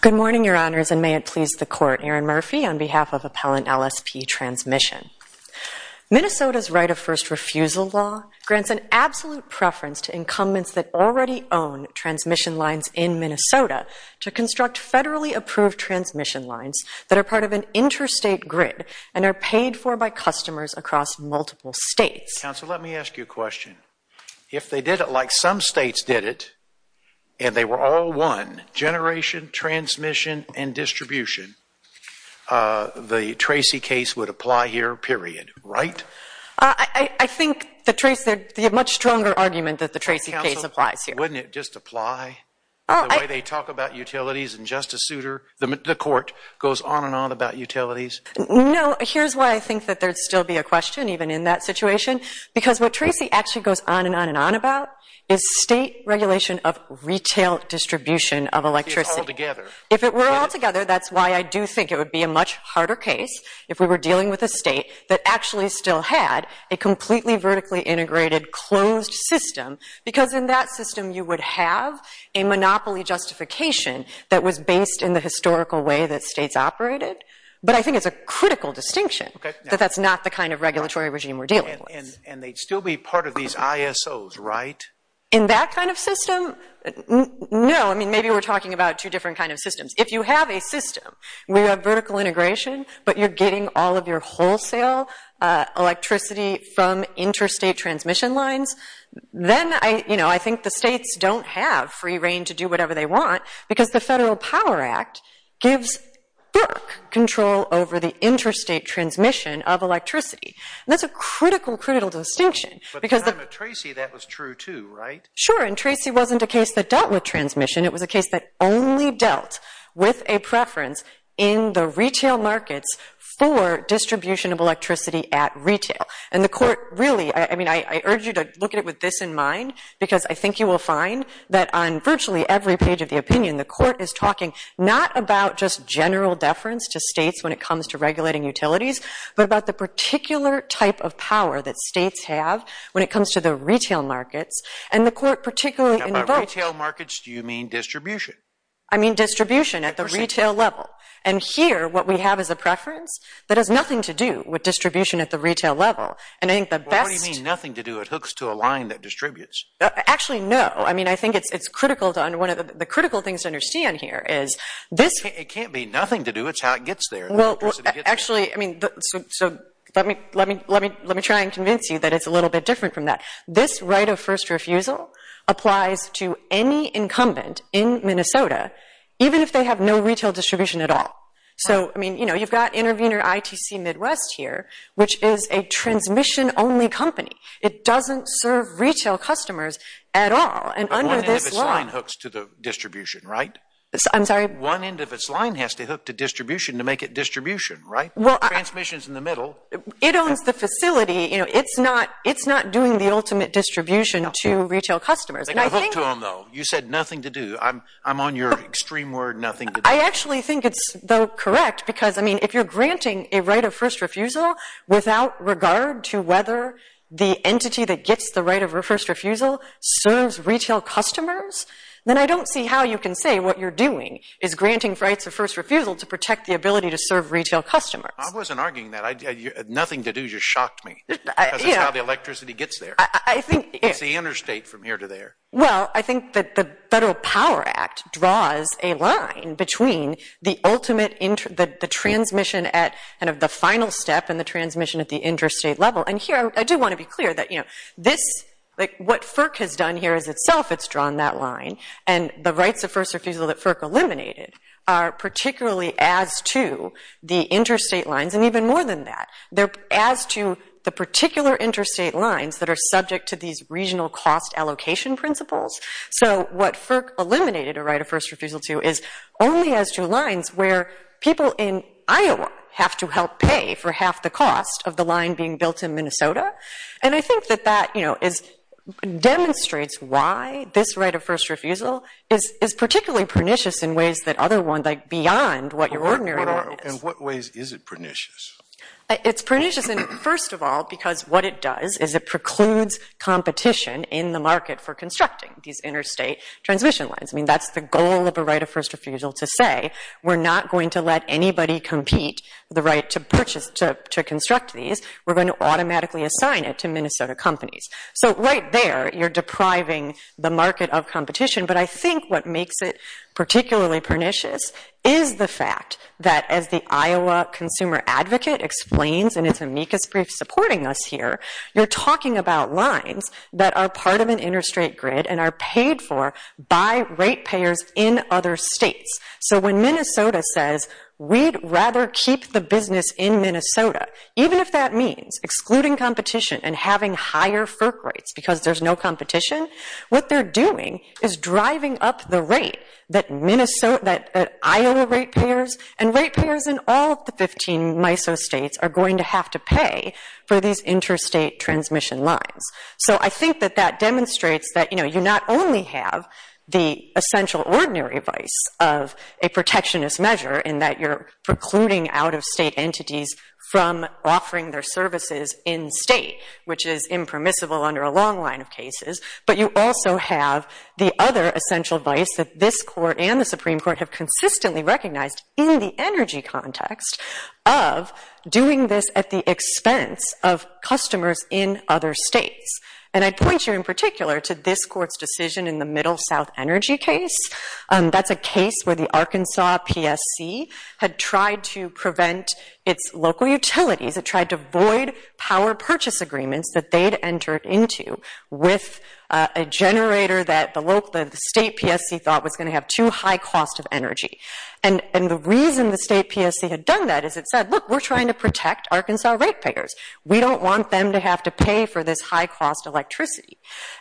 Good morning, Your Honors, and may it please the Court, Erin Murphy, on behalf of Appellant LSP Transmission. Minnesota's right of first refusal law grants an absolute preference to incumbents that already own transmission lines in Minnesota to construct federally approved transmission lines that are part of an interstate grid and are paid for by customers across multiple states. Counsel, let me ask you a question. If they did it like some states did it, and they were all one, generation, transmission, and distribution, the Tracy case would apply here, period, right? I think the Tracy, the much stronger argument that the Tracy case applies here. Wouldn't it just apply the way they talk about utilities and Justice Souter, the Court, goes on and on about utilities? No, here's why I think that there'd still be a question even in that situation, because what Tracy actually goes on and on and on about is state regulation of retail distribution of electricity. It's all together. If it were all together, that's why I do think it would be a much harder case if we were dealing with a state that actually still had a completely vertically integrated closed system, because in that system you would have a monopoly justification that was based in the historical way that states operated, but I think it's a critical distinction that that's not the kind of regulatory regime we're dealing with. And they'd still be part of these ISOs, right? In that kind of system, no. I mean, maybe we're talking about two different kinds of systems. If you have a system, we have vertical integration, but you're getting all of your Then, you know, I think the states don't have free reign to do whatever they want, because the Federal Power Act gives FERC control over the interstate transmission of electricity. And that's a critical, critical distinction, because the… But at the time of Tracy, that was true too, right? Sure, and Tracy wasn't a case that dealt with transmission. It was a case that only dealt with a preference in the retail markets for distribution of electricity at retail. And the court really, I mean, I urge you to look at it with this in mind, because I think you will find that on virtually every page of the opinion, the court is talking not about just general deference to states when it comes to regulating utilities, but about the particular type of power that states have when it comes to the retail markets. And the court particularly… And by retail markets, do you mean distribution? I mean distribution at the retail level. And here, what we have is a preference that has Well, what do you mean nothing to do? It hooks to a line that distributes. Actually, no. I mean, I think it's critical to… One of the critical things to understand here is this… It can't be nothing to do. It's how it gets there. Well, actually, I mean, so let me try and convince you that it's a little bit different from that. This right of first refusal applies to any incumbent in Minnesota, even if they have no retail distribution at all. So, I mean, you know, you've got intervener ITC Midwest here, which is a transmission-only company. It doesn't serve retail customers at all. But one end of its line hooks to the distribution, right? I'm sorry? One end of its line has to hook to distribution to make it distribution, right? Well, I… Transmission's in the middle. It owns the facility. You know, it's not doing the ultimate distribution to retail customers. They got hooked to them, though. You said nothing to do. I'm on your extreme word, nothing to do. I actually think it's, though, correct, because, I mean, if you're granting a right of first refusal without regard to whether the entity that gets the right of first refusal serves retail customers, then I don't see how you can say what you're doing is granting rights of first refusal to protect the ability to serve retail customers. I wasn't arguing that. Nothing to do just shocked me, because it's how the electricity gets there. I think… It's the interstate from here to there. Well, I think that the Federal Power Act draws a line between the ultimate… the transmission at kind of the final step and the transmission at the interstate level. And here, I do want to be clear that, you know, this… like, what FERC has done here is itself, it's drawn that line. And the rights of first refusal that FERC eliminated are particularly as to the interstate lines, and even more than that, they're as to the particular interstate lines that are subject to these regional cost allocation principles. So, what FERC eliminated a right of first refusal to is only as to lines where people in Iowa have to help pay for half the cost of the line being built in Minnesota. And I think that that, you know, is… demonstrates why this right of first refusal is particularly pernicious in ways that other ones, like beyond what your ordinary one is. In what ways is it pernicious? It's pernicious in… first of all, because what it does is it precludes competition in the market for constructing these interstate transmission lines. I mean, that's the goal of a right of first refusal to say, we're not going to let anybody compete the right to purchase… to construct these. We're going to automatically assign it to Minnesota companies. So, right there, you're depriving the market of competition. But I think what makes it particularly pernicious is the fact that, as the Iowa Consumer Advocate explains in its amicus brief supporting us here, you're talking about lines that are part of an interstate grid and are paid for by rate payers in other states. So, when Minnesota says, we'd rather keep the business in Minnesota, even if that means excluding competition and having higher FERC rates because there's no competition, what they're doing is driving up the rate that Minnesota… and rate payers in all of the 15 MISO states are going to have to pay for these interstate transmission lines. So, I think that that demonstrates that, you know, you not only have the essential ordinary vice of a protectionist measure in that you're precluding out-of-state entities from offering their services in-state, which is impermissible under a long line of cases, but you also have the other essential vice that this Court and the Supreme Court have consistently recognized in the energy context of doing this at the expense of customers in other states. And I'd point you in particular to this Court's decision in the Middle South Energy case. That's a case where the Arkansas PSC had tried to prevent its local utilities, it tried to void power purchase agreements that they'd entered into with a generator that the state PSC thought was going to have too high cost of energy. And the reason the state PSC had done that is it said, look, we're trying to protect Arkansas rate payers. We don't want them to have to pay for this high-cost electricity.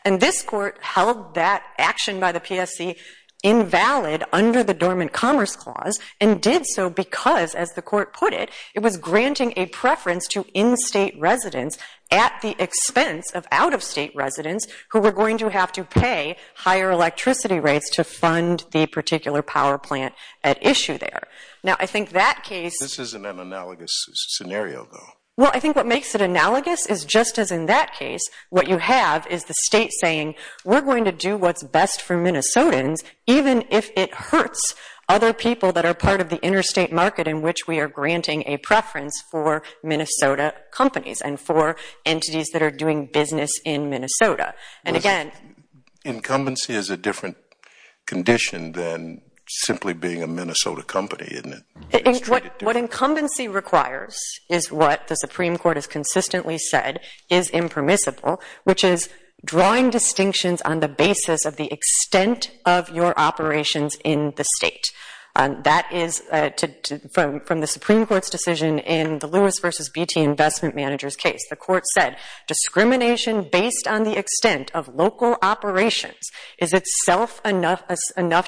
And this Court held that action by the PSC invalid under the Dormant Commerce Clause and did so because, as the Court put it, it was granting a preference to in-state residents at the expense of out-of-state residents who were going to have to pay higher electricity rates to fund the particular power plant at issue there. Now, I think that case... This isn't an analogous scenario, though. Well, I think what makes it analogous is just as in that case, what you have is the state saying, we're going to do what's best for Minnesotans, even if it hurts other people that are part of the interstate market in which we are granting a preference for Minnesota companies and for entities that are doing business in Minnesota. And again... Incumbency is a different condition than simply being a Minnesota company, isn't it? What incumbency requires is what the Supreme Court has consistently said is impermissible, which is drawing distinctions on the basis of the extent of your operations in the state. That is from the Supreme Court's decision in the Lewis v. Beattie investment manager's case. The court said, discrimination based on the extent of local operations is itself enough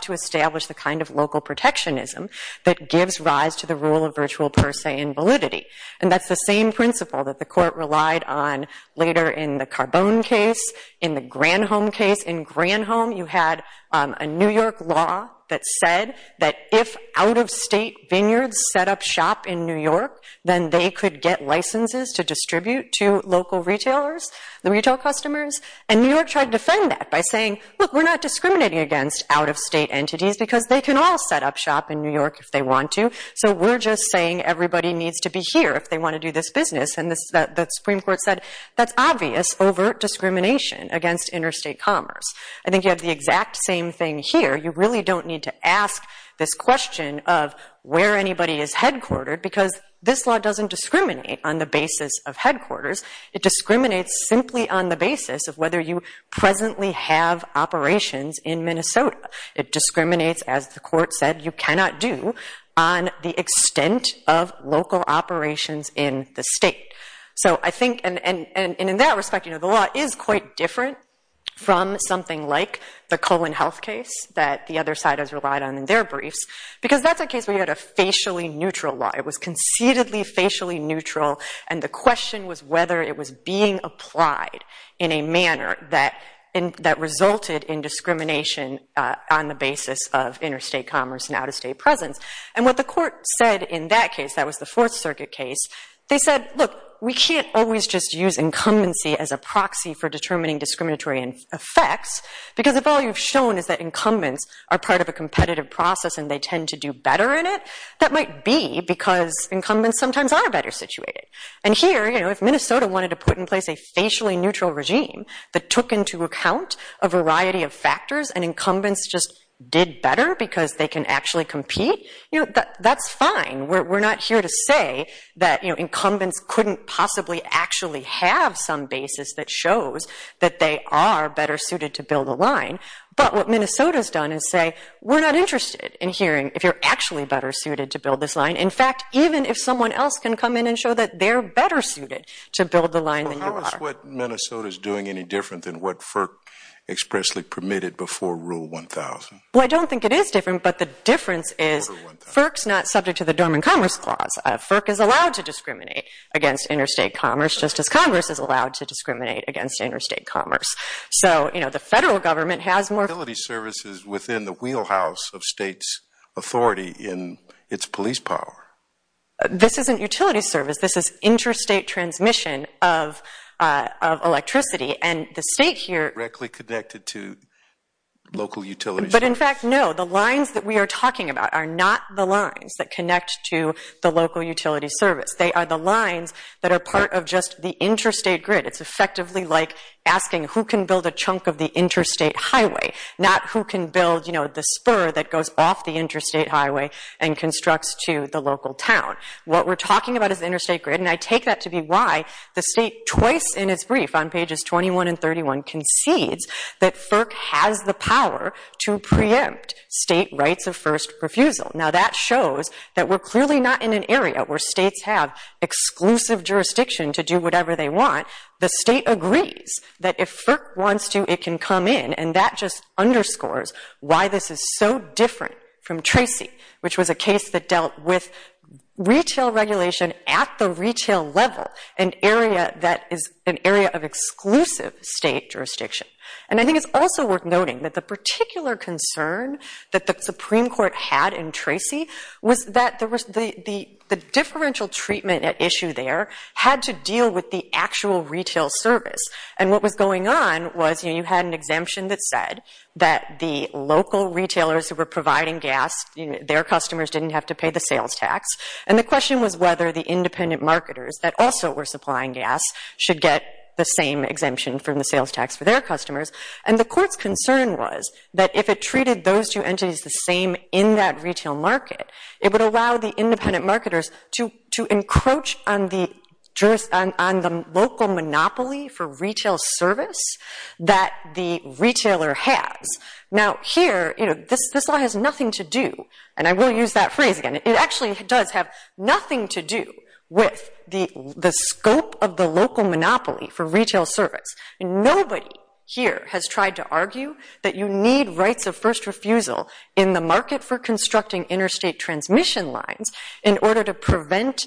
to establish the kind of local protectionism that gives rise to the rule of virtual per se and validity. And that's the same principle that the court relied on later in the Carbone case, in the Granholm case. In Granholm, you had a New York law that said that if out-of-state vineyards set up shop in New York, then they could get licenses to distribute to local retailers, the retail customers. And New York tried to defend that by saying, look, we're not discriminating against out-of-state entities because they can all set up shop in New York if they want to. So we're just saying everybody needs to be here if they want to do this business. And the Supreme Court said, that's obvious overt discrimination against interstate commerce. I think you have the exact same thing here. You really don't need to ask this question of where anybody is headquartered because this law doesn't discriminate on the basis of headquarters. It discriminates simply on the basis of whether you presently have operations in Minnesota. It discriminates, as the court said, you cannot do on the extent of local operations in the state. So I think, and in that respect, the law is quite different from something like the Colon Health case that the other side has relied on in their briefs because that's a case where you had a facially neutral law. It was concededly facially neutral. And the question was whether it was being applied in a manner that resulted in discrimination on the basis of interstate commerce and out-of-state presence. And what the court said in that case, that was the Fourth Circuit case, they said, look, we can't always just use incumbency as a proxy for determining discriminatory effects because if all you've shown is that incumbents are part of a competitive process and they tend to do better in it, that might be because incumbents sometimes are better situated. And here, if Minnesota wanted to put in place a facially neutral regime that took into account a variety of factors and incumbents just did better because they can actually compete, that's fine. We're not here to say that incumbents couldn't possibly actually have some basis that shows that they are better suited to build a line. But what Minnesota's done is say, we're not interested in hearing if you're actually better suited to build this line. In fact, even if someone else can come in and show that they're better suited to build the line than you are. Well, how is what Minnesota's doing any different than what FERC expressly permitted before Rule 1000? Well, I don't think it is different, but the difference is FERC's not subject to the Dormant Commerce Clause. FERC is allowed to discriminate against interstate commerce just as Congress is allowed to discriminate against interstate commerce. So, you know, the federal government has more... Utility services within the wheelhouse of state's authority in its police power. This isn't utility service, this is interstate transmission of electricity. And the state here... Directly connected to local utilities. But in fact, no, the lines that we are talking about are not the lines that connect to the local utility service. They are the lines that are part of just the interstate grid. It's effectively like asking who can build a chunk of the interstate highway, not who can build, you know, the spur that goes off the interstate highway and constructs to the local town. What we're talking about is the interstate grid, and I take that to be why the state twice in its brief on pages 21 and 31 concedes that FERC has the power to preempt state rights of first refusal. Now, that shows that we're clearly not in an area where states have exclusive jurisdiction to do whatever they want. The state agrees that if FERC wants to, it can come in, and that just underscores why this is so different from Tracy, which was a case that dealt with retail regulation at the retail level, an area that is an area of exclusive state jurisdiction. And I think it's also worth noting that the particular concern that the Supreme Court had in Tracy was that there was the differential treatment at issue there had to deal with the actual retail service. And what was going on was, you know, you had an exemption that said that the local retailers who were providing gas, you know, their customers didn't have to pay the sales tax. And the question was whether the independent marketers that also were supplying gas should get the same exemption from the sales tax for their customers. And the court's concern was that if it treated those two entities the same in that retail market, it would allow the independent marketers to encroach on the local monopoly for retail service that the retailer has. Now, here, you know, this law has nothing to do, and I will use that phrase again, it actually does have nothing to do with the scope of the local monopoly for retail service. Nobody here has tried to argue that you need rights of first refusal in the market for constructing interstate transmission lines in order to prevent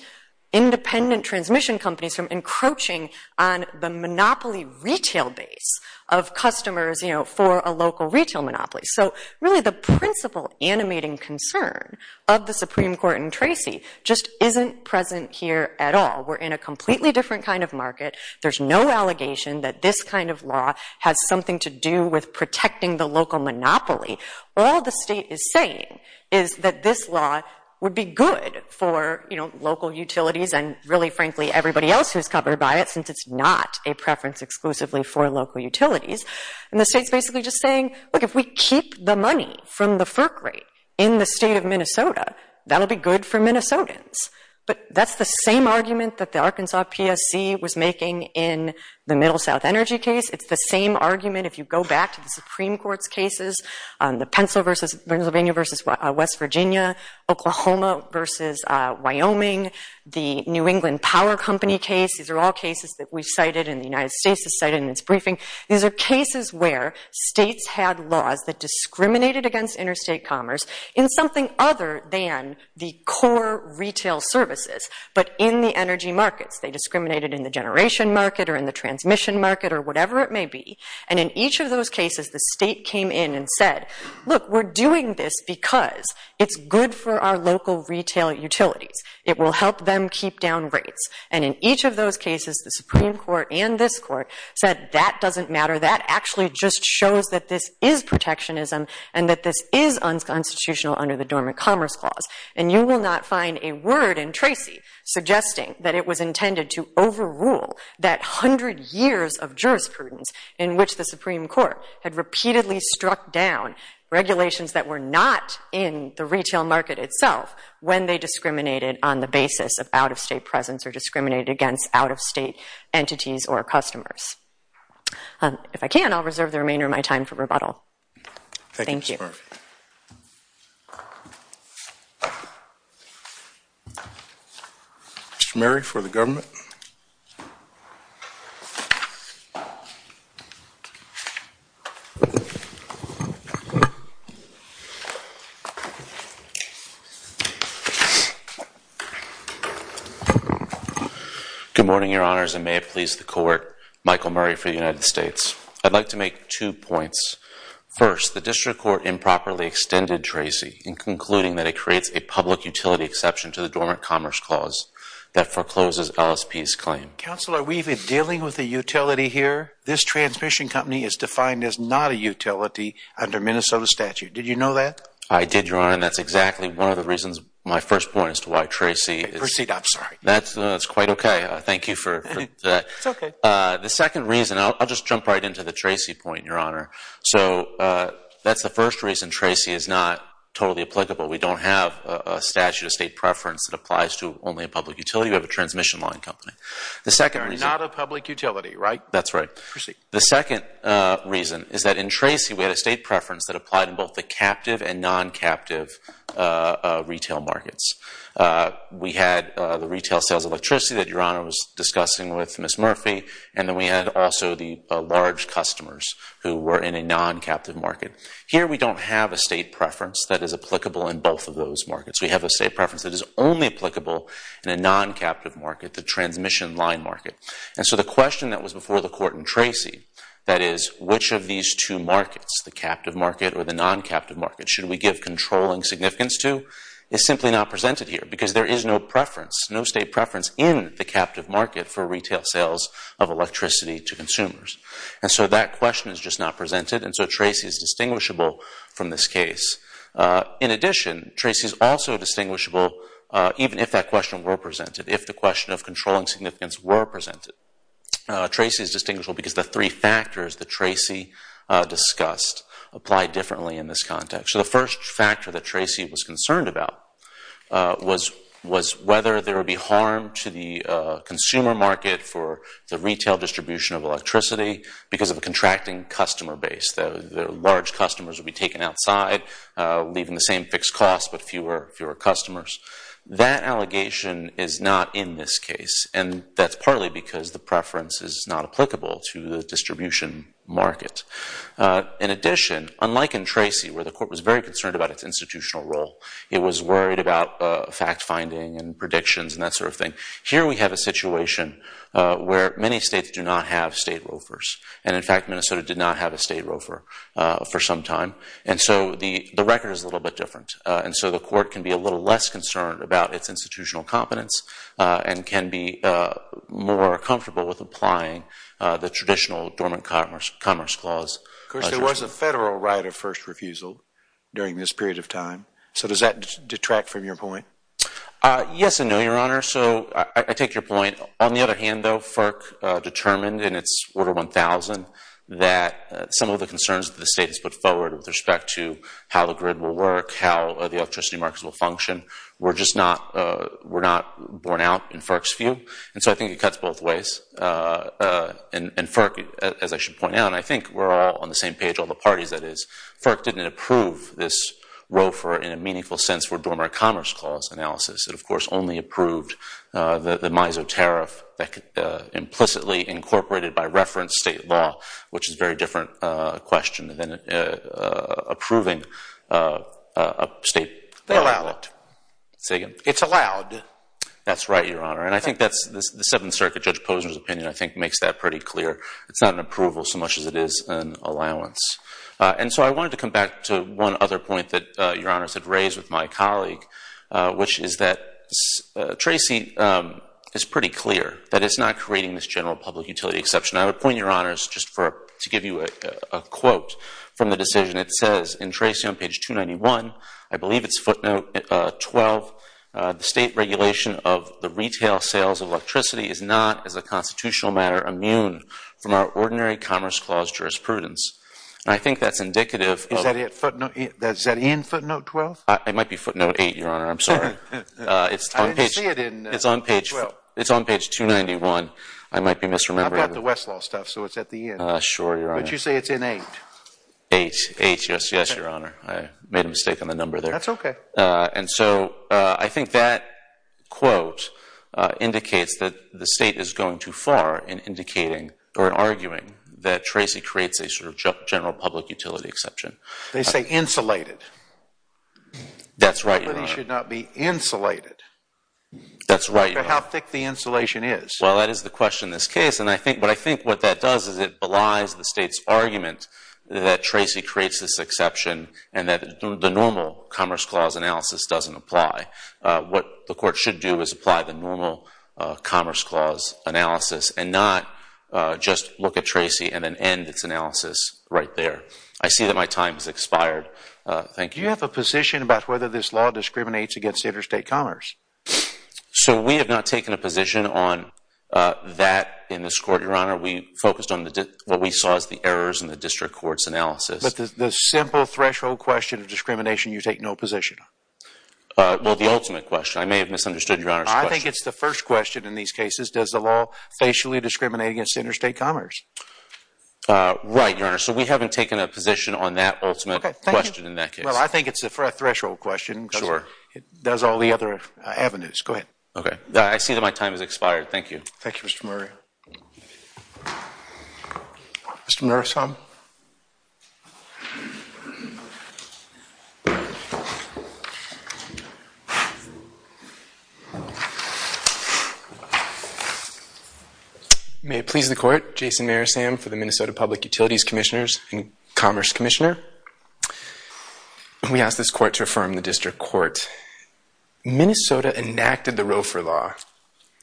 independent transmission companies from encroaching on the monopoly retail base of customers, you know, for a local retail monopoly. So, really, the principal animating concern of the Supreme Court in Tracy just isn't present here at all. We're in a completely different kind of market. There's no allegation that this kind of law has something to do with protecting the local monopoly. All the state is saying is that this law would be good for, you know, local utilities and really, frankly, everybody else who's covered by it since it's not a preference exclusively for local utilities. And the state's basically just saying, look, if we keep the money from the FERC rate in the state of Minnesota, that'll be good for Minnesotans. But that's the same argument that the Arkansas PSC was making in the Middle South Energy case. It's the same argument if you go back to the Supreme Court's cases, the Pennsylvania versus West Virginia, Oklahoma versus Wyoming, the New England Power Company case. These are all cases that we've cited and the United States has cited in its briefing. These are cases where states had laws that discriminated against interstate commerce in something other than the core retail services, but in the energy markets. They discriminated in the generation market or in the transmission market or whatever it may be. And in each of those cases, the state came in and said, look, we're doing this because it's good for our local retail utilities. It will help them keep down rates. And in each of those cases, the Supreme Court and this court said, that doesn't matter. That actually just shows that this is protectionism and that this is unconstitutional under the Dormant Commerce Clause. And you will not find a word in Tracy suggesting that it was intended to overrule that 100 years of jurisprudence in which the Supreme Court had repeatedly struck down regulations that were not in the retail market itself when they discriminated on the basis of out-of-state presence or discriminated against out-of-state entities or customers. If I can, I'll reserve the remainder of my time for rebuttal. Thank you. Thank you, Mr. Murphy. Mr. Murray for the government. Good morning, Your Honors. And may it please the court, Michael Murray for the United States. I'd like to make two points. First, the district court improperly extended Tracy in concluding that it creates a public utility exception to the Dormant Commerce Clause that forecloses LSP's claim. Counsel, are we even dealing with a utility here? This transmission company is defined as not a utility under Minnesota statute. Did you know that? I did, Your Honor. And that's exactly one of the reasons my first point as to why Tracy is. Proceed, I'm sorry. That's quite OK. Thank you for that. The second reason, I'll just jump right into the Tracy point, Your Honor. So that's the first reason Tracy is not totally applicable. We don't have a statute of state preference that applies to only a public utility. We have a transmission line company. The second reason. Not a public utility, right? That's right. The second reason is that in Tracy, we had a state preference that applied in both the captive and non-captive retail markets. We had the retail sales electricity that Your Honor was discussing with Ms. Murphy. And then we had also the large customers who were in a non-captive market. Here, we don't have a state preference that is applicable in both of those markets. We have a state preference that is only applicable in a non-captive market, the transmission line market. And so the question that was before the court in Tracy, that is, which of these two markets, the captive market or the non-captive market, should we give controlling significance to, is simply not presented here. Because there is no preference, no state preference in the captive market for retail sales of electricity to consumers. And so that question is just not presented. And so Tracy is distinguishable from this case. In addition, Tracy is also distinguishable even if that question were presented, if the question of controlling significance were presented. Tracy is distinguishable because the three factors that Tracy discussed apply differently in this context. So the first factor that Tracy was concerned about was whether there would be harm to the consumer market for the retail distribution of electricity because of a contracting customer base. The large customers would be taken outside, leaving the same fixed costs but fewer customers. That allegation is not in this case. And that's partly because the preference is not applicable to the distribution market. In addition, unlike in Tracy, where the court was very concerned about its institutional role, it was worried about fact-finding and predictions and that sort of thing. Here we have a situation where many states do not have state roofers. And in fact, Minnesota did not have a state roofer for some time. And so the record is a little bit different. And so the court can be a little less concerned about its institutional competence and can be more comfortable with applying the traditional dormant commerce clause. Of course, there was a federal right of first refusal during this period of time. So does that detract from your point? Yes and no, Your Honor. So I take your point. On the other hand, though, FERC determined in its order 1,000 that some of the concerns that the state has put forward with respect to how the grid will work, how the electricity markets will function, were not borne out in FERC's view. And so I think it cuts both ways. And FERC, as I should point out, and I think we're all on the same page, all the parties that is, FERC didn't approve this roofer in a meaningful sense for dormant commerce clause analysis. It, of course, only approved the MISO tariff that could implicitly incorporated by reference state law, which is a very different question than approving a state ballot. It's allowed. Say again? It's allowed. That's right, Your Honor. And I think that's the Seventh Circuit, Judge Posner's opinion, I think, makes that pretty clear. It's not an approval so much as it is an allowance. And so I wanted to come back to one other point that Your Honors had raised with my colleague, which is that Tracy is pretty clear that it's not creating this general public utility exception. And I would point Your Honors, just to give you a quote from the decision, it says, in Tracy on page 291, I believe it's footnote 12, the state regulation of the retail sales of electricity is not, as a constitutional matter, immune from our ordinary commerce clause jurisprudence. And I think that's indicative of- Is that in footnote 12? It might be footnote 8, Your Honor. I'm sorry. I didn't see it in footnote 12. It's on page 291. I might be misremembering. I've got the Westlaw stuff, so it's at the end. Sure, Your Honor. But you say it's in 8. 8, 8, yes, yes, Your Honor. I made a mistake on the number there. That's OK. And so I think that quote indicates that the state is going too far in indicating, or arguing, that Tracy creates a sort of general public utility exception. They say insulated. That's right, Your Honor. Utilities should not be insulated. That's right, Your Honor. But how thick the insulation is. Well, that is the question in this case. And what I think what that does is it belies the state's argument that Tracy creates this exception and that the normal commerce clause analysis doesn't apply. What the court should do is apply the normal commerce clause analysis and not just look at Tracy and then end its analysis right there. I see that my time has expired. Thank you. Do you have a position about whether this law discriminates against interstate commerce? So we have not taken a position on that in this court, Your Honor. We focused on what we saw as the errors in the district court's analysis. But the simple threshold question of discrimination, you take no position on? Well, the ultimate question. I may have misunderstood Your Honor's question. I think it's the first question in these cases. Does the law facially discriminate against interstate commerce? Right, Your Honor. So we haven't taken a position on that ultimate question in that case. Well, I think it's a threshold question because it does all the other avenues. Go ahead. OK. I see that my time has expired. Thank you. Thank you, Mr. Murray. Mr. Murasame. May it please the court, Jason Murasame for the Minnesota Public Utilities Commissioners and Commerce Commissioner. We ask this court to affirm the district court. Minnesota enacted the Roe for Law,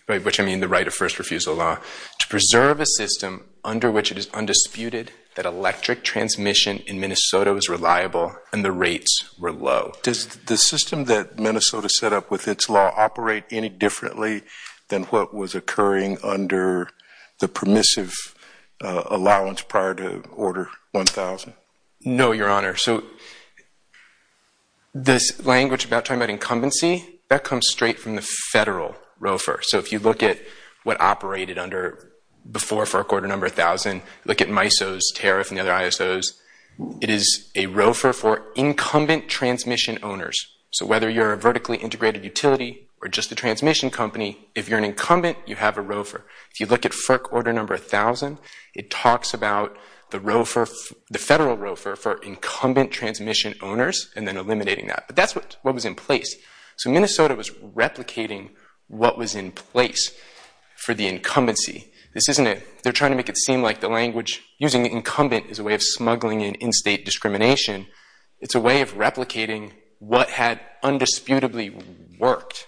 which I mean the right of first refusal law, to preserve a system under which it is undisputed that electric transmission in Minnesota was reliable and the rates were low. Does the system that Minnesota set up with its law operate any differently than what was occurring under the permissive allowance prior to order 1,000? No, Your Honor. So this language about talking about incumbency, that comes straight from the federal Roe for. So if you look at what operated under before for a quarter number 1,000, look at MISO's tariff and the other ISO's, it is a Roe for incumbent transmission owners. So whether you're a vertically integrated utility or just a transmission company, if you're an incumbent, you have a Roe for. If you look at FERC order number 1,000, it talks about the federal Roe for incumbent transmission owners and then eliminating that. But that's what was in place. So Minnesota was replicating what was in place for the incumbency. They're trying to make it seem like the language using the incumbent is a way of smuggling in in-state discrimination. It's a way of replicating what had undisputably worked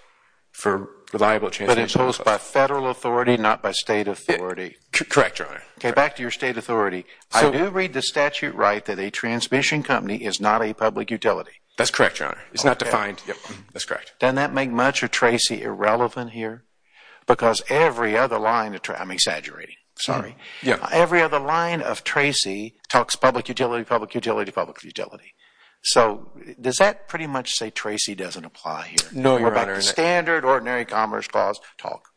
for reliable transmission. But imposed by federal authority, not by state authority. Correct, Your Honor. Back to your state authority. I do read the statute right that a transmission company is not a public utility. That's correct, Your Honor. It's not defined. That's correct. Doesn't that make much of Tracy irrelevant here? Because every other line of Tracy, I'm exaggerating, sorry. Every other line of Tracy talks public utility, public utility, public utility. So does that pretty much say Tracy doesn't apply here? No, Your Honor. What about the standard ordinary commerce clause talk?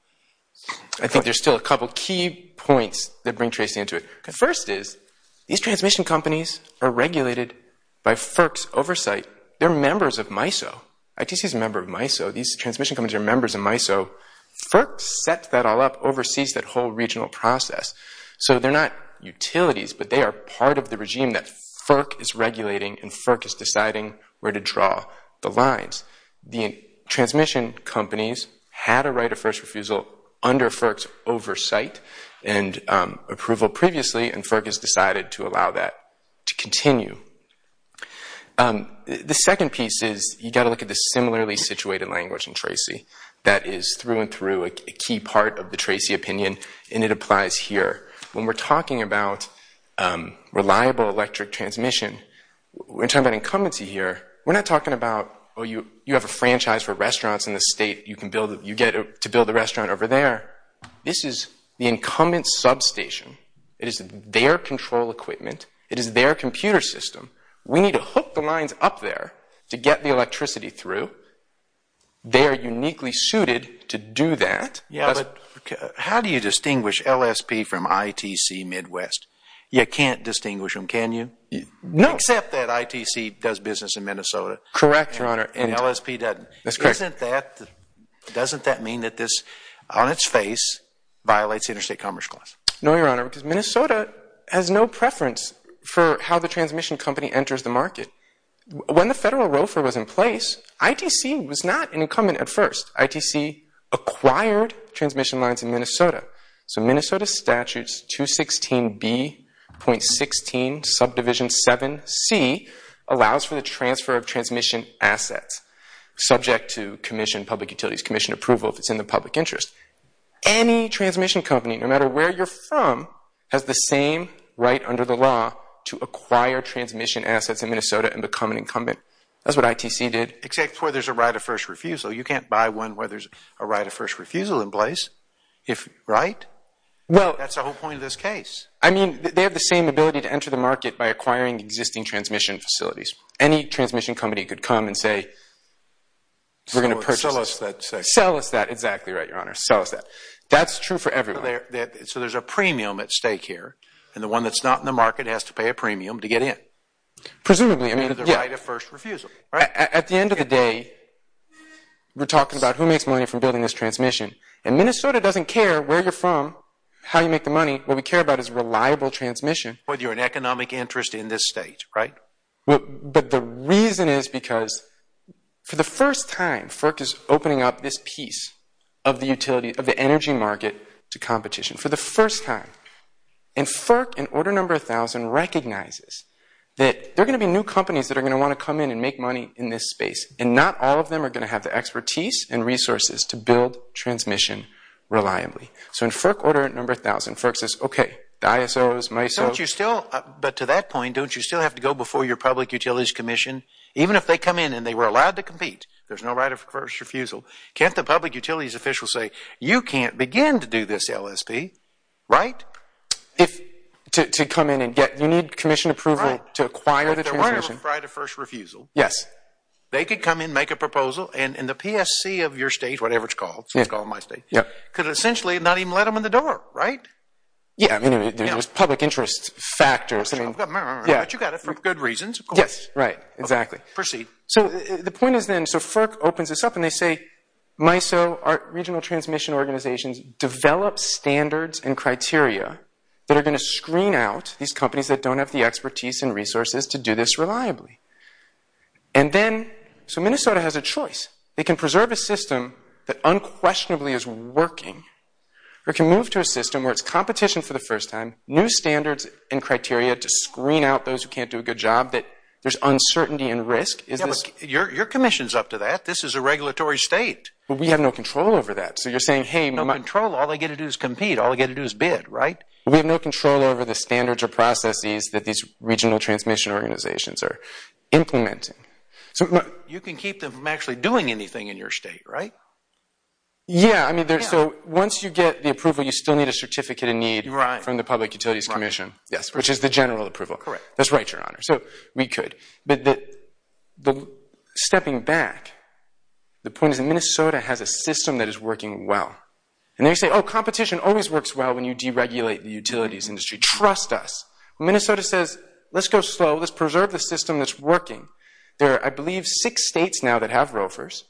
I think there's still a couple of key points that bring Tracy into it. First is, these transmission companies are regulated by FERC's oversight. They're members of MISO. ITC's a member of MISO. These transmission companies are members of MISO. FERC sets that all up, oversees that whole regional process. So they're not utilities, but they are part of the regime that FERC is regulating. And FERC is deciding where to draw the lines. The transmission companies had a right of first refusal under FERC's oversight and approval previously. And FERC has decided to allow that to continue. The second piece is, you've got to look at the similarly situated language in Tracy that is through and through a key part of the Tracy opinion. And it applies here. When we're talking about reliable electric transmission, we're talking about incumbency here. We're not talking about, oh, you have a franchise for restaurants in the state. You get to build a restaurant over there. This is the incumbent substation. It is their control equipment. It is their computer system. We need to hook the lines up there to get the electricity through. They are uniquely suited to do that. Yeah, but how do you distinguish LSP from ITC Midwest? You can't distinguish them, can you? No. Except that ITC does business in Minnesota. Correct, Your Honor. And LSP doesn't. That's correct. Doesn't that mean that this, on its face, violates interstate commerce clause? No, Your Honor, because Minnesota has no preference for how the transmission company enters the market. When the federal ROFA was in place, ITC was not an incumbent at first. ITC acquired transmission lines in Minnesota. So Minnesota statutes 216B.16 subdivision 7C allows for the transfer of transmission assets subject to commission, public utilities commission approval if it's in the public interest. Any transmission company, no matter where you're from, has the same right under the law to acquire transmission assets in Minnesota and become an incumbent. That's what ITC did. Except for there's a right of first refusal. So you can't buy one where there's a right of first refusal in place, right? That's the whole point of this case. I mean, they have the same ability to enter the market by acquiring existing transmission facilities. Any transmission company could come and say, we're going to purchase this. Sell us that. Exactly right, Your Honor. Sell us that. That's true for everyone. So there's a premium at stake here. And the one that's not in the market has to pay a premium to get in. Presumably. Under the right of first refusal. At the end of the day, we're talking about who makes money from building this transmission. And Minnesota doesn't care where you're from, how you make the money. What we care about is reliable transmission. Whether you're an economic interest in this state, right? But the reason is because, for the first time, FERC is opening up this piece of the utility, of the energy market, to competition. For the first time. And FERC, in order number 1,000, recognizes that there are going to be new companies that are going to want to come in and make money in this space. And not all of them are going to have the expertise and resources to build transmission reliably. So in FERC order number 1,000, FERC says, OK, the ISOs, MISOs. But to that point, don't you still have to go before your public utilities commission, even if they come in and they were allowed to compete? There's no right of first refusal. Can't the public utilities officials say, you can't begin to do this LSP, right? To come in and get, you need commission approval to acquire the transmission. Right of first refusal. Yes. They could come in, make a proposal, and the PSC of your state, whatever it's called, let's call it my state, could essentially not even let them in the door, right? Yeah, I mean, there's public interest factors. I've got it, but you've got it for good reasons, of course. Yes, right, exactly. Proceed. So the point is then, so FERC opens this up, and they say, MISO, our regional transmission organizations, develop standards and criteria that are going to screen out these companies that don't have the expertise and resources to do this reliably. And then, so Minnesota has a choice. They can preserve a system that unquestionably is working, or it can move to a system where it's competition for the first time, new standards and criteria to screen out those who can't do a good job, that there's uncertainty and risk. Your commission's up to that. This is a regulatory state. But we have no control over that. So you're saying, hey, my my. No control. All they get to do is compete. All they get to do is bid, right? We have no control over the standards or processes that these regional transmission organizations are implementing. You can keep them from actually doing anything in your state, right? Yeah, I mean, so once you get the approval, you still need a certificate of need from the Public Utilities Commission. Yes, which is the general approval. Correct. That's right, Your Honor. So we could. But the stepping back, the point is that Minnesota has a system that is working well. And then you say, oh, competition always works well when you deregulate the utilities industry. Trust us. Minnesota says, let's go slow. Let's preserve the system that's working. There are, I believe, six states now that have ROFRs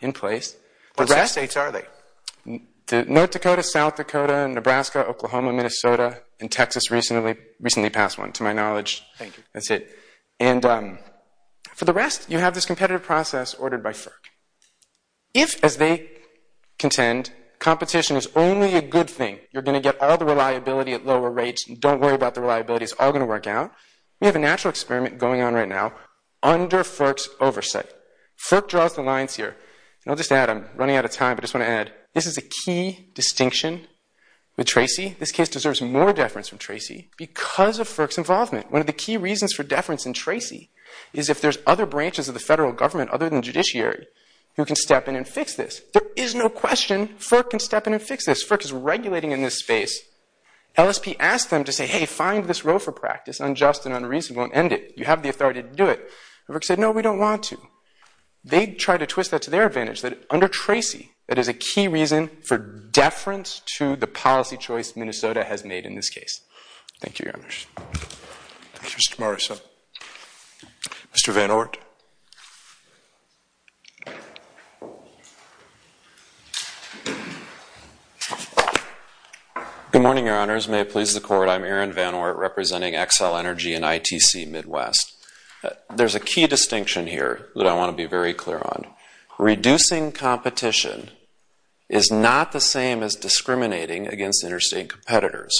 in place. What six states are they? North Dakota, South Dakota, and Nebraska, Oklahoma, Minnesota, and Texas recently passed one, to my knowledge. Thank you. That's it. And for the rest, you have this competitive process ordered by FERC. If, as they contend, competition is only a good thing, you're going to get all the reliability at lower rates. And don't worry about the reliability. It's all going to work out. We have a natural experiment going on right now under FERC's oversight. FERC draws the lines here. And I'll just add, I'm running out of time, but I just want to add, this is a key distinction with Tracy. This case deserves more deference from Tracy because of FERC's involvement. One of the key reasons for deference in Tracy is if there's other branches of the federal government other than the judiciary who can step in and fix this. There is no question FERC can step in and fix this. FERC is regulating in this space. LSP asked them to say, hey, find this roe for practice. Unjust and unreasonable. End it. You have the authority to do it. FERC said, no, we don't want to. They tried to twist that to their advantage that under Tracy, that is a key reason for deference to the policy choice Minnesota has made in this case. Thank you very much. Thank you, Mr. Morrison. Mr. Van Oort. Good morning, your honors. May it please the court. I'm Aaron Van Oort representing Xcel Energy and ITC Midwest. There's a key distinction here that I want to be very clear on. Reducing competition is not the same as discriminating against interstate competitors.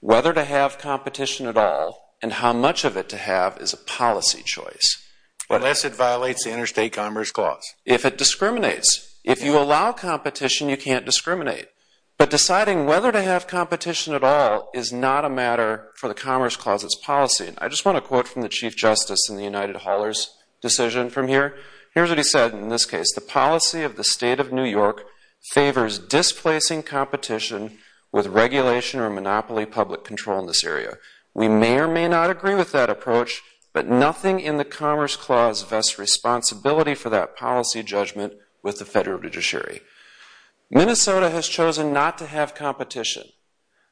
Whether to have competition at all and how much of it to have is a policy choice. Unless it violates the Interstate Commerce Clause. If it discriminates. If you allow competition, you can't discriminate. But deciding whether to have competition at all is not a matter for the Commerce Clause, its policy. And I just want to quote from the Chief Justice in the United Haulers decision from here. Here's what he said in this case. The policy of the state of New York favors displacing competition with regulation or monopoly public control in this area. We may or may not agree with that approach, but nothing in the Commerce Clause vests responsibility for that policy judgment with the federal judiciary. Minnesota has chosen not to have competition.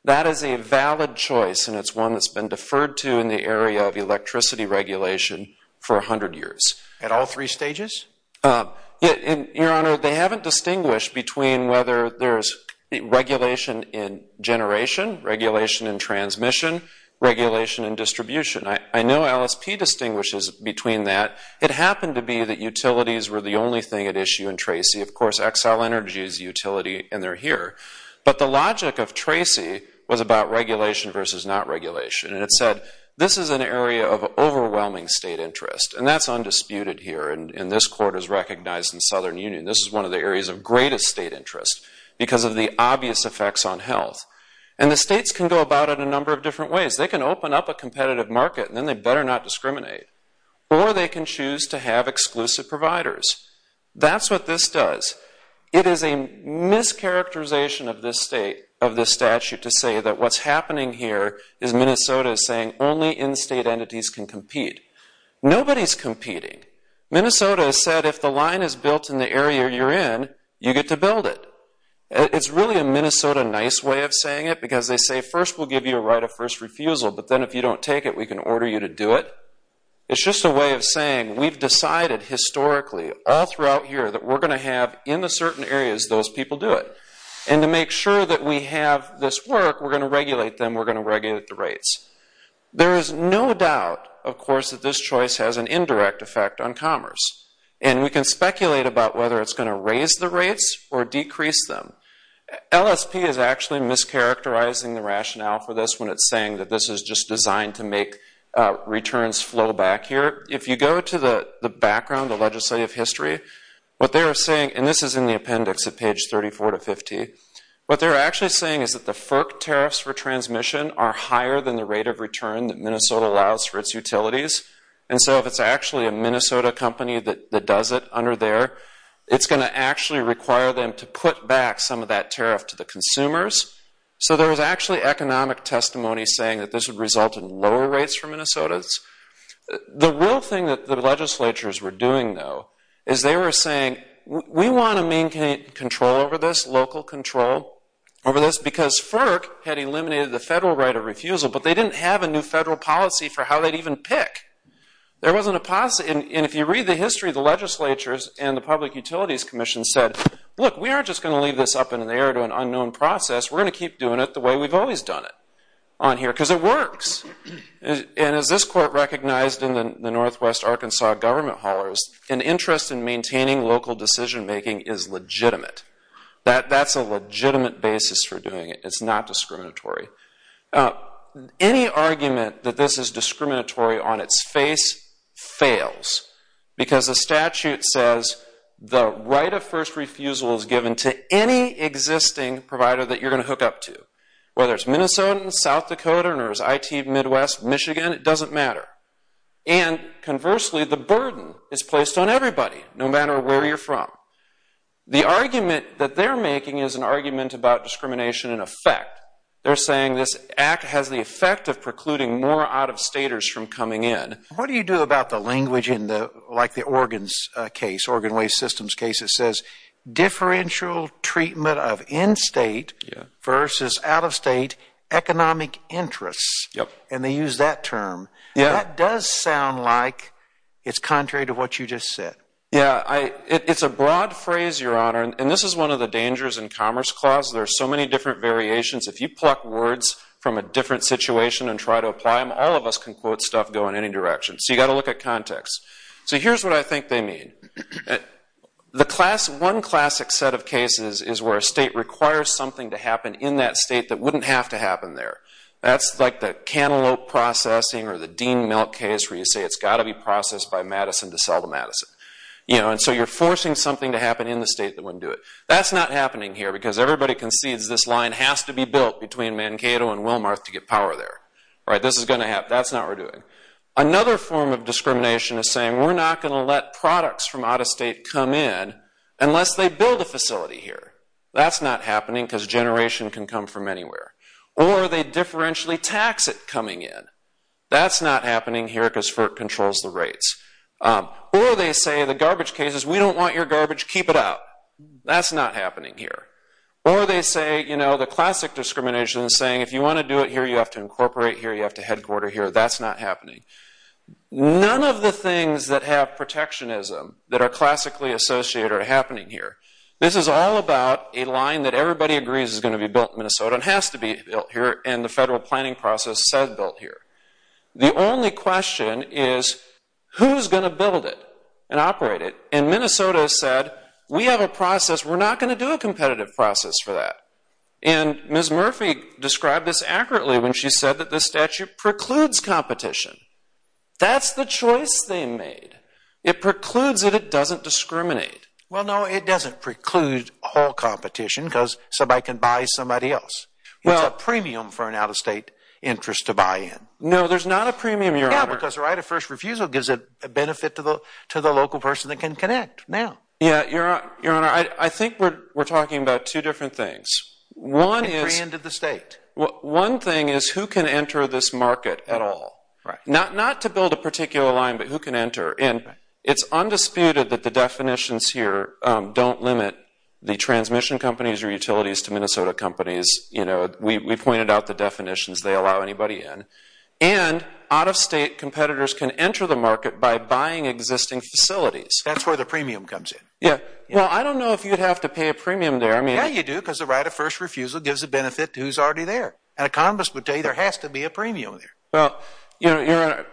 That is a valid choice, and it's one that's been deferred to in the area of electricity regulation for 100 years. At all three stages? Your Honor, they haven't distinguished between whether there's regulation in generation, regulation in transmission, regulation in distribution. I know LSP distinguishes between that. It happened to be that utilities were the only thing at issue in Tracy. Of course, Xcel Energy is a utility, and they're here. But the logic of Tracy was about regulation versus not regulation. And it said, this is an area of overwhelming state interest. And that's undisputed here, and this court is recognized in the Southern Union. This is one of the areas of greatest state interest because of the obvious effects on health. And the states can go about it a number of different ways. They can open up a competitive market, and then they better not discriminate. Or they can choose to have exclusive providers. That's what this does. It is a mischaracterization of this statute to say that what's happening here is Minnesota is saying only in-state entities can compete. Nobody's competing. Minnesota has said, if the line is built in the area you're in, you get to build it. It's really a Minnesota nice way of saying it because they say, first, we'll give you a right of first refusal. But then if you don't take it, we can order you to do it. It's just a way of saying, we've decided historically all throughout here that we're going to have, in the certain areas, those people do it. And to make sure that we have this work, we're going to regulate them. We're going to regulate the rates. There is no doubt, of course, that this choice has an indirect effect on commerce. And we can speculate about whether it's going to raise the rates or decrease them. LSP is actually mischaracterizing the rationale for this when it's saying that this is just designed to make returns flow back here. If you go to the background, the legislative history, what they're saying, and this is in the appendix at page 34 to 50, what they're actually saying is that the FERC tariffs for transmission are higher than the rate of return that Minnesota allows for its utilities. And so if it's actually a Minnesota company that does it under there, it's going to actually require them to put back some of that tariff to the consumers. So there is actually economic testimony saying that this would result in lower rates for Minnesotans. The real thing that the legislatures were doing, though, is they were saying, we want to maintain control over this, local control over this, because FERC had eliminated the federal right of refusal, but they didn't have a new federal policy for how they'd even pick. There wasn't a possibility. And if you read the history, the legislatures and the Public Utilities Commission said, look, we aren't just going to leave this up in the air to an unknown process. We're going to keep doing it the way we've always done it. Because it works. And as this court recognized in the Northwest Arkansas government haulers, an interest in maintaining local decision making is legitimate. That's a legitimate basis for doing it. It's not discriminatory. Any argument that this is discriminatory on its face fails, because the statute says the right of first refusal is given to any existing provider that you're going to hook up to. Whether it's Minnesota, South Dakota, or IT Midwest, Michigan, it doesn't matter. And conversely, the burden is placed on everybody, no matter where you're from. The argument that they're making is an argument about discrimination in effect. They're saying this act has the effect of precluding more out-of-staters from coming in. What do you do about the language in the, like the organs case, organ waste systems case, it says differential treatment of in-state versus out-of-state economic interests. And they use that term. That does sound like it's contrary to what you just said. Yeah, it's a broad phrase, your honor. And this is one of the dangers in Commerce Clause. There are so many different variations. If you pluck words from a different situation and try to apply them, all of us can quote stuff go in any direction. So you've got to look at context. So here's what I think they mean. One classic set of cases is where a state requires something to happen in that state that wouldn't have to happen there. That's like the cantaloupe processing or the Dean milk case, where you say it's got to be processed by Madison to sell to Madison. And so you're forcing something to happen in the state that wouldn't do it. That's not happening here, because everybody concedes this line has to be built between Mankato and Wilmarth to get power there. This is going to happen. That's not what we're doing. Another form of discrimination is saying we're not going to let products from out of state come in unless they build a facility here. That's not happening, because generation can come from anywhere. Or they differentially tax it coming in. That's not happening here, because FERC controls the rates. Or they say the garbage cases, we don't want your garbage. Keep it out. That's not happening here. Or they say the classic discrimination is saying if you want to do it here, you have to incorporate here. You have to headquarter here. That's not happening. None of the things that have protectionism, that are classically associated, are happening here. This is all about a line that everybody agrees is going to be built in Minnesota and has to be built here, and the federal planning process says built here. The only question is who's going to build it and operate it? And Minnesota said, we have a process. We're not going to do a competitive process for that. And Ms. Murphy described this accurately when she said that the statute precludes competition. That's the choice they made. It precludes it. It doesn't discriminate. Well, no, it doesn't preclude all competition, because somebody can buy somebody else. It's a premium for an out-of-state interest to buy in. No, there's not a premium, Your Honor. Yeah, because the right of first refusal gives a benefit to the local person that can connect now. Yeah, Your Honor, I think we're talking about two different things. One is. It pre-ended the state. One thing is, who can enter this market at all? Not to build a particular line, but who can enter? And it's undisputed that the definitions here don't limit the transmission companies or utilities to Minnesota companies. We pointed out the definitions they allow anybody in. And out-of-state competitors can enter the market by buying existing facilities. That's where the premium comes in. Well, I don't know if you'd have to pay a premium there. Yeah, you do, because the right of first refusal gives a benefit to who's already there. And a conglomerate would tell you there has to be a premium there. Well, Your Honor,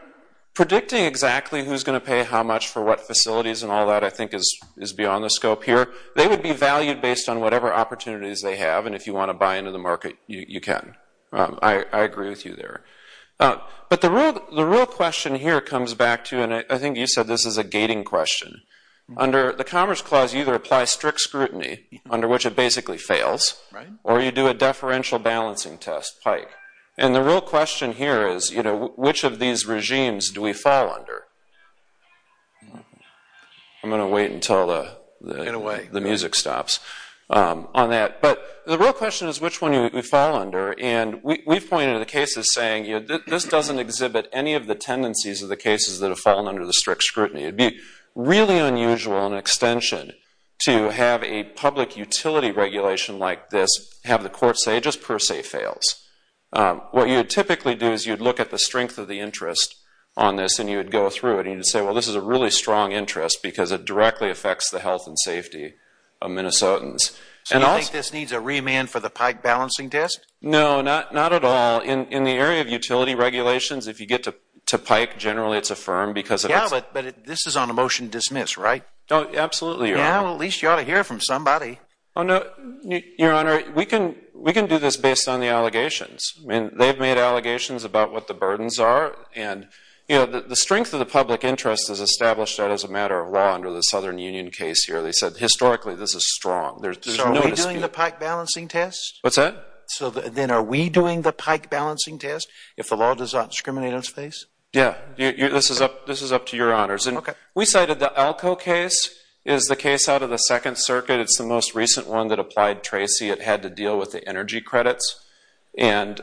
predicting exactly who's going to pay how much for what facilities and all that, I think, is beyond the scope here. They would be valued based on whatever opportunities they have. And if you want to buy into the market, you can. I agree with you there. But the real question here comes back to, and I think you said this is a gating question. Under the Commerce Clause, you either apply strict scrutiny, under which it basically fails. Or you do a deferential balancing test, PIKE. And the real question here is, which of these regimes do we fall under? I'm going to wait until the music stops on that. But the real question is, which one do we fall under? And we've pointed to the cases saying, this doesn't exhibit any of the tendencies of the cases that have fallen under the strict scrutiny. It'd be really unusual in extension to have a public utility regulation like this have the court say, it just per se fails. What you would typically do is you'd look at the strength of the interest on this, and you would go through it. And you'd say, well, this is a really strong interest because it directly affects the health and safety of Minnesotans. So you think this needs a remand for the PIKE balancing test? No, not at all. In the area of utility regulations, if you get to PIKE, generally it's affirmed because of its- Yeah, but this is on a motion to dismiss, right? No, absolutely, Your Honor. Yeah, well, at least you ought to hear it from somebody. Oh, no, Your Honor, we can do this based on the allegations. I mean, they've made allegations about what the burdens are. And the strength of the public interest is established as a matter of law under the Southern Union case here. They said, historically, this is strong. There's no dispute. So are we doing the PIKE balancing test? What's that? So then are we doing the PIKE balancing test if the law does not discriminate on its face? Yeah, this is up to Your Honors. OK. We cited the ALCO case is the case out of the Second Circuit. It's the most recent one that applied Tracy. It had to deal with the energy credits. And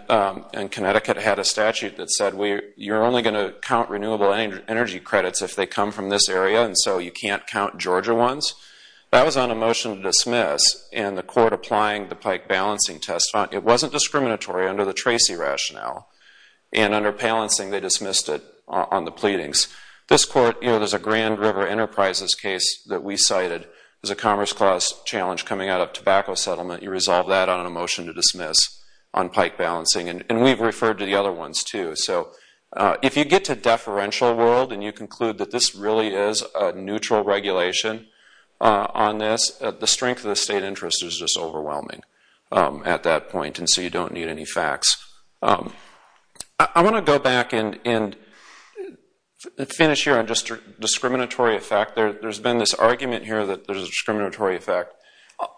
Connecticut had a statute that said you're only going to count renewable energy credits if they come from this area. And so you can't count Georgia ones. That was on a motion to dismiss. And the court applying the PIKE balancing test, it wasn't discriminatory under the Tracy rationale. And under Palancing, they dismissed it on the pleadings. This court, there's a Grand River Enterprises case that we cited. There's a Commerce Clause challenge coming out of tobacco settlement. You resolve that on a motion to dismiss on PIKE balancing. And we've referred to the other ones, too. So if you get to deferential world and you conclude that this really is a neutral regulation on this, the strength of the state interest is just overwhelming at that point. And so you don't need any facts. I want to go back and finish here on just discriminatory effect. There's been this argument here that there's a discriminatory effect.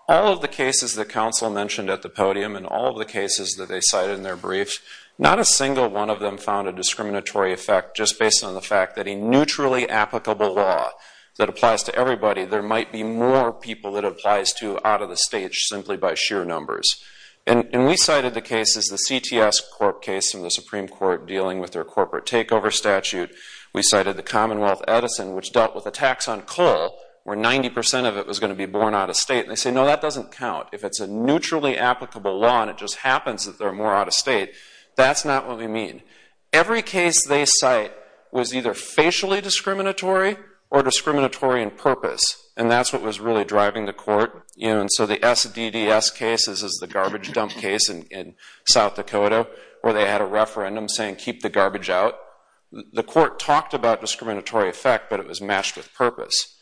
All of the cases that counsel mentioned at the podium and all of the cases that they cited in their briefs, not a single one of them found a discriminatory effect just based on the fact that a neutrally applicable law that applies to everybody, there might be more people that it applies to out of the stage simply by sheer numbers. And we cited the cases, the CTS court case in the Supreme Court dealing with their corporate takeover statute. We cited the Commonwealth Edison, which dealt with a tax on coal, where 90% of it was going to be born out of state. And they say, no, that doesn't count. If it's a neutrally applicable law and it just happens that they're more out of state, that's not what we mean. Every case they cite was either facially discriminatory or discriminatory in purpose. And that's what was really driving the court. And so the SDDS case, this is the garbage dump case in South Dakota, where they had a referendum saying, keep the garbage out. The court talked about discriminatory effect, but it was matched with purpose.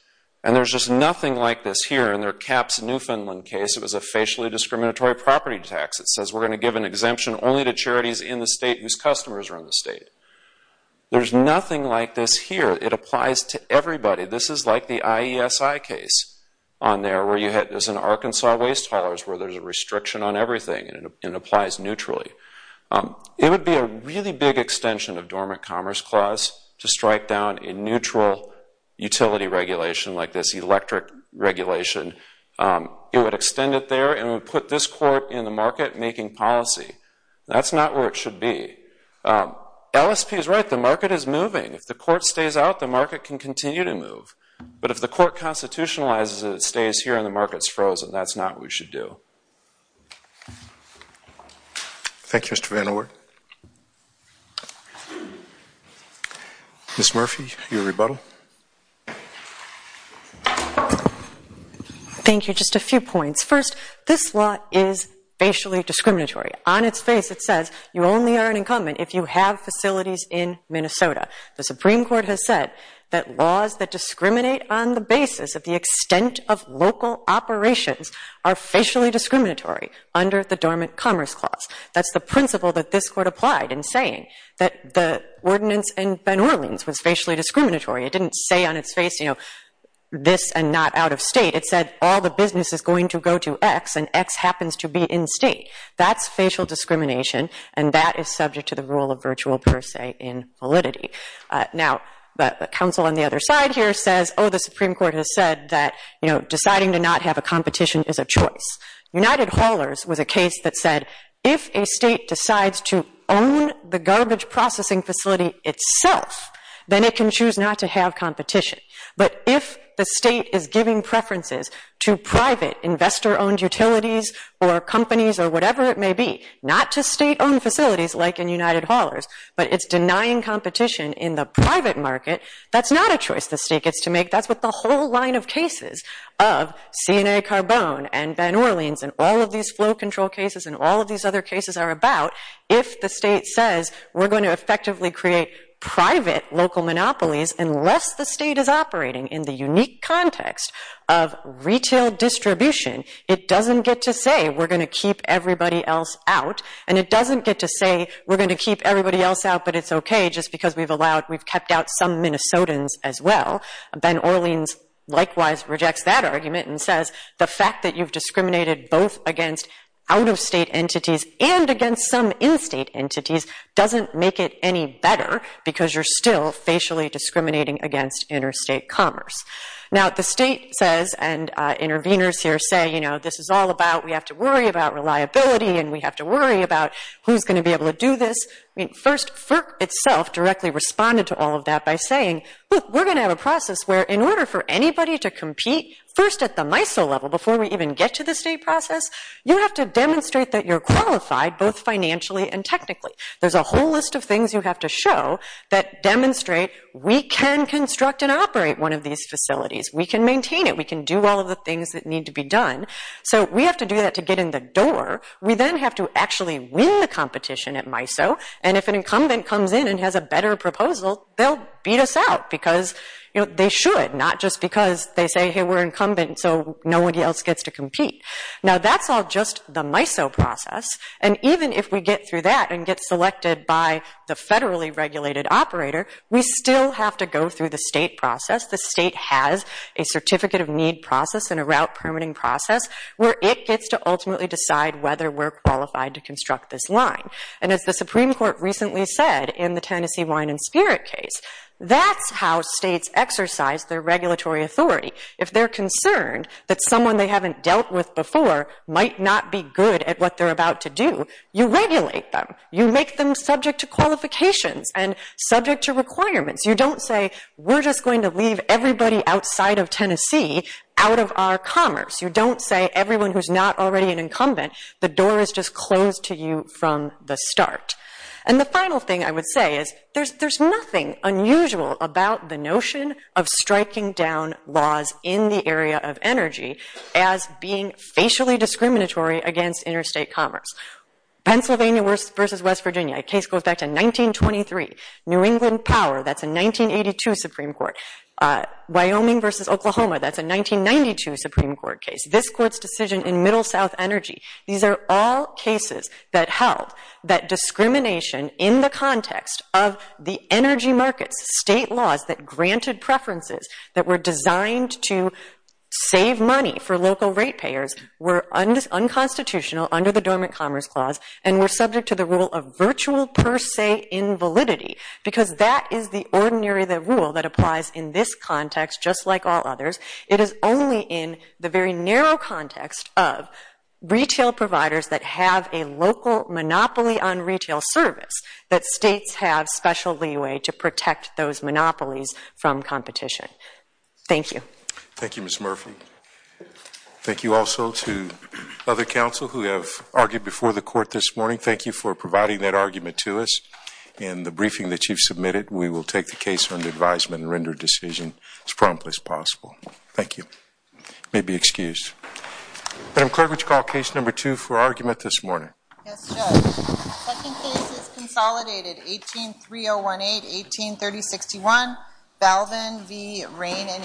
And there's just nothing like this here. In their CAPS Newfoundland case, it was a facially discriminatory property tax. It says, we're going to give an exemption only to charities in the state whose customers are in the state. There's nothing like this here. It applies to everybody. This is like the IESI case on there, as in Arkansas waste haulers, where there's a restriction on everything and it applies neutrally. It would be a really big extension of Dormant Commerce Clause to strike down a neutral utility regulation like this electric regulation. It would extend it there and would put this court in the market making policy. That's not where it should be. LSP is right. The market is moving. If the court stays out, the market can continue to move. But if the court constitutionalizes it, it stays here and the market's frozen. That's not what we should do. Thank you, Mr. Van Oort. Ms. Murphy, your rebuttal. Thank you. Just a few points. First, this law is facially discriminatory. On its face, it says, you only are an incumbent if you have facilities in Minnesota. The Supreme Court has said that laws that discriminate on the basis of the extent of local operations are facially discriminatory under the Dormant Commerce Clause. That's the principle that this court applied in saying that the ordinance in Ben Orleans was facially discriminatory. It didn't say on its face, this and not out of state. It said, all the business is going to go to x and x happens to be in state. That's facial discrimination, and that is subject to the rule of virtual per se in validity. Now, the counsel on the other side here says, oh, the Supreme Court has said that deciding to not have a competition is a choice. United Haulers was a case that said, if a state decides to own the garbage processing facility itself, then it can choose not to have competition. But if the state is giving preferences to private investor-owned utilities or companies or whatever it may be, not to state-owned facilities like in United Haulers, but it's denying competition in the private market, that's not a choice the state gets to make. That's what the whole line of cases of CNA Carbone and Ben Orleans and all of these flow control cases and all of these other cases are about. If the state says, we're going to effectively create private local monopolies, unless the state is operating in the unique context of retail distribution, it doesn't get to say, we're going to keep everybody else out. And it doesn't get to say, we're going to keep everybody else out, but it's OK, just because we've allowed, we've kept out some Minnesotans as well. Ben Orleans likewise rejects that argument and says, the fact that you've discriminated both against out-of-state entities and against some in-state entities doesn't make it any better, because you're still facially discriminating against interstate commerce. Now, the state says, and interveners here say, you know, this is all about, we have to worry about reliability and we have to worry about who's going to be able to do this. First, FERC itself directly responded to all of that by saying, look, we're going to have a process where, in order for anybody to compete, first at the MISO level before we even get to the state process, you have to demonstrate that you're qualified, both financially and technically. There's a whole list of things you have to show that demonstrate we can construct and operate one of these facilities. We can maintain it. We can do all of the things that need to be done. So we have to do that to get in the door. We then have to actually win the competition at MISO. And if an incumbent comes in and has a better proposal, they'll beat us out, because they should, not just because they say, hey, we're incumbent, so nobody else gets to compete. Now, that's all just the MISO process. And even if we get through that and get selected by the federally regulated operator, we still have to go through the state process. The state has a certificate of need process and a route permitting process where it gets to ultimately decide whether we're qualified to construct this line. And as the Supreme Court recently said in the Tennessee Wine and Spirit case, that's how states exercise their regulatory authority. If they're concerned that someone they haven't dealt with before might not be good at what they're about to do, you regulate them. You make them subject to qualifications and subject to requirements. You don't say, we're just going to leave everybody outside of Tennessee out of our commerce. You don't say, everyone who's not already an incumbent, the door is just closed to you from the start. And the final thing I would say is, there's nothing unusual about the notion of striking down laws in the area of energy as being facially discriminatory against interstate commerce. Pennsylvania versus West Virginia, a case goes back to 1923. New England Power, that's a 1982 Supreme Court. Wyoming versus Oklahoma, that's a 1992 Supreme Court. This court's decision in Middle South Energy, these are all cases that held that discrimination in the context of the energy markets, state laws that granted preferences that were designed to save money for local rate payers were unconstitutional under the Dormant Commerce Clause and were subject to the rule of virtual per se invalidity. Because that is the ordinary rule that applies in this context, just like all others. It is only in the very narrow context of retail providers that have a local monopoly on retail service that states have special leeway to protect those monopolies from competition. Thank you. Thank you, Ms. Murphy. Thank you also to other counsel who have argued before the court this morning. Thank you for providing that argument to us. In the briefing that you've submitted, we will take the case under advisement and render a decision as promptly as possible. Thank you. You may be excused. Madam Clerk, would you call case number two for argument this morning? Yes, Judge. Second case is consolidated, 18-3018, 18-3061, Balvin v. Rain and Hill.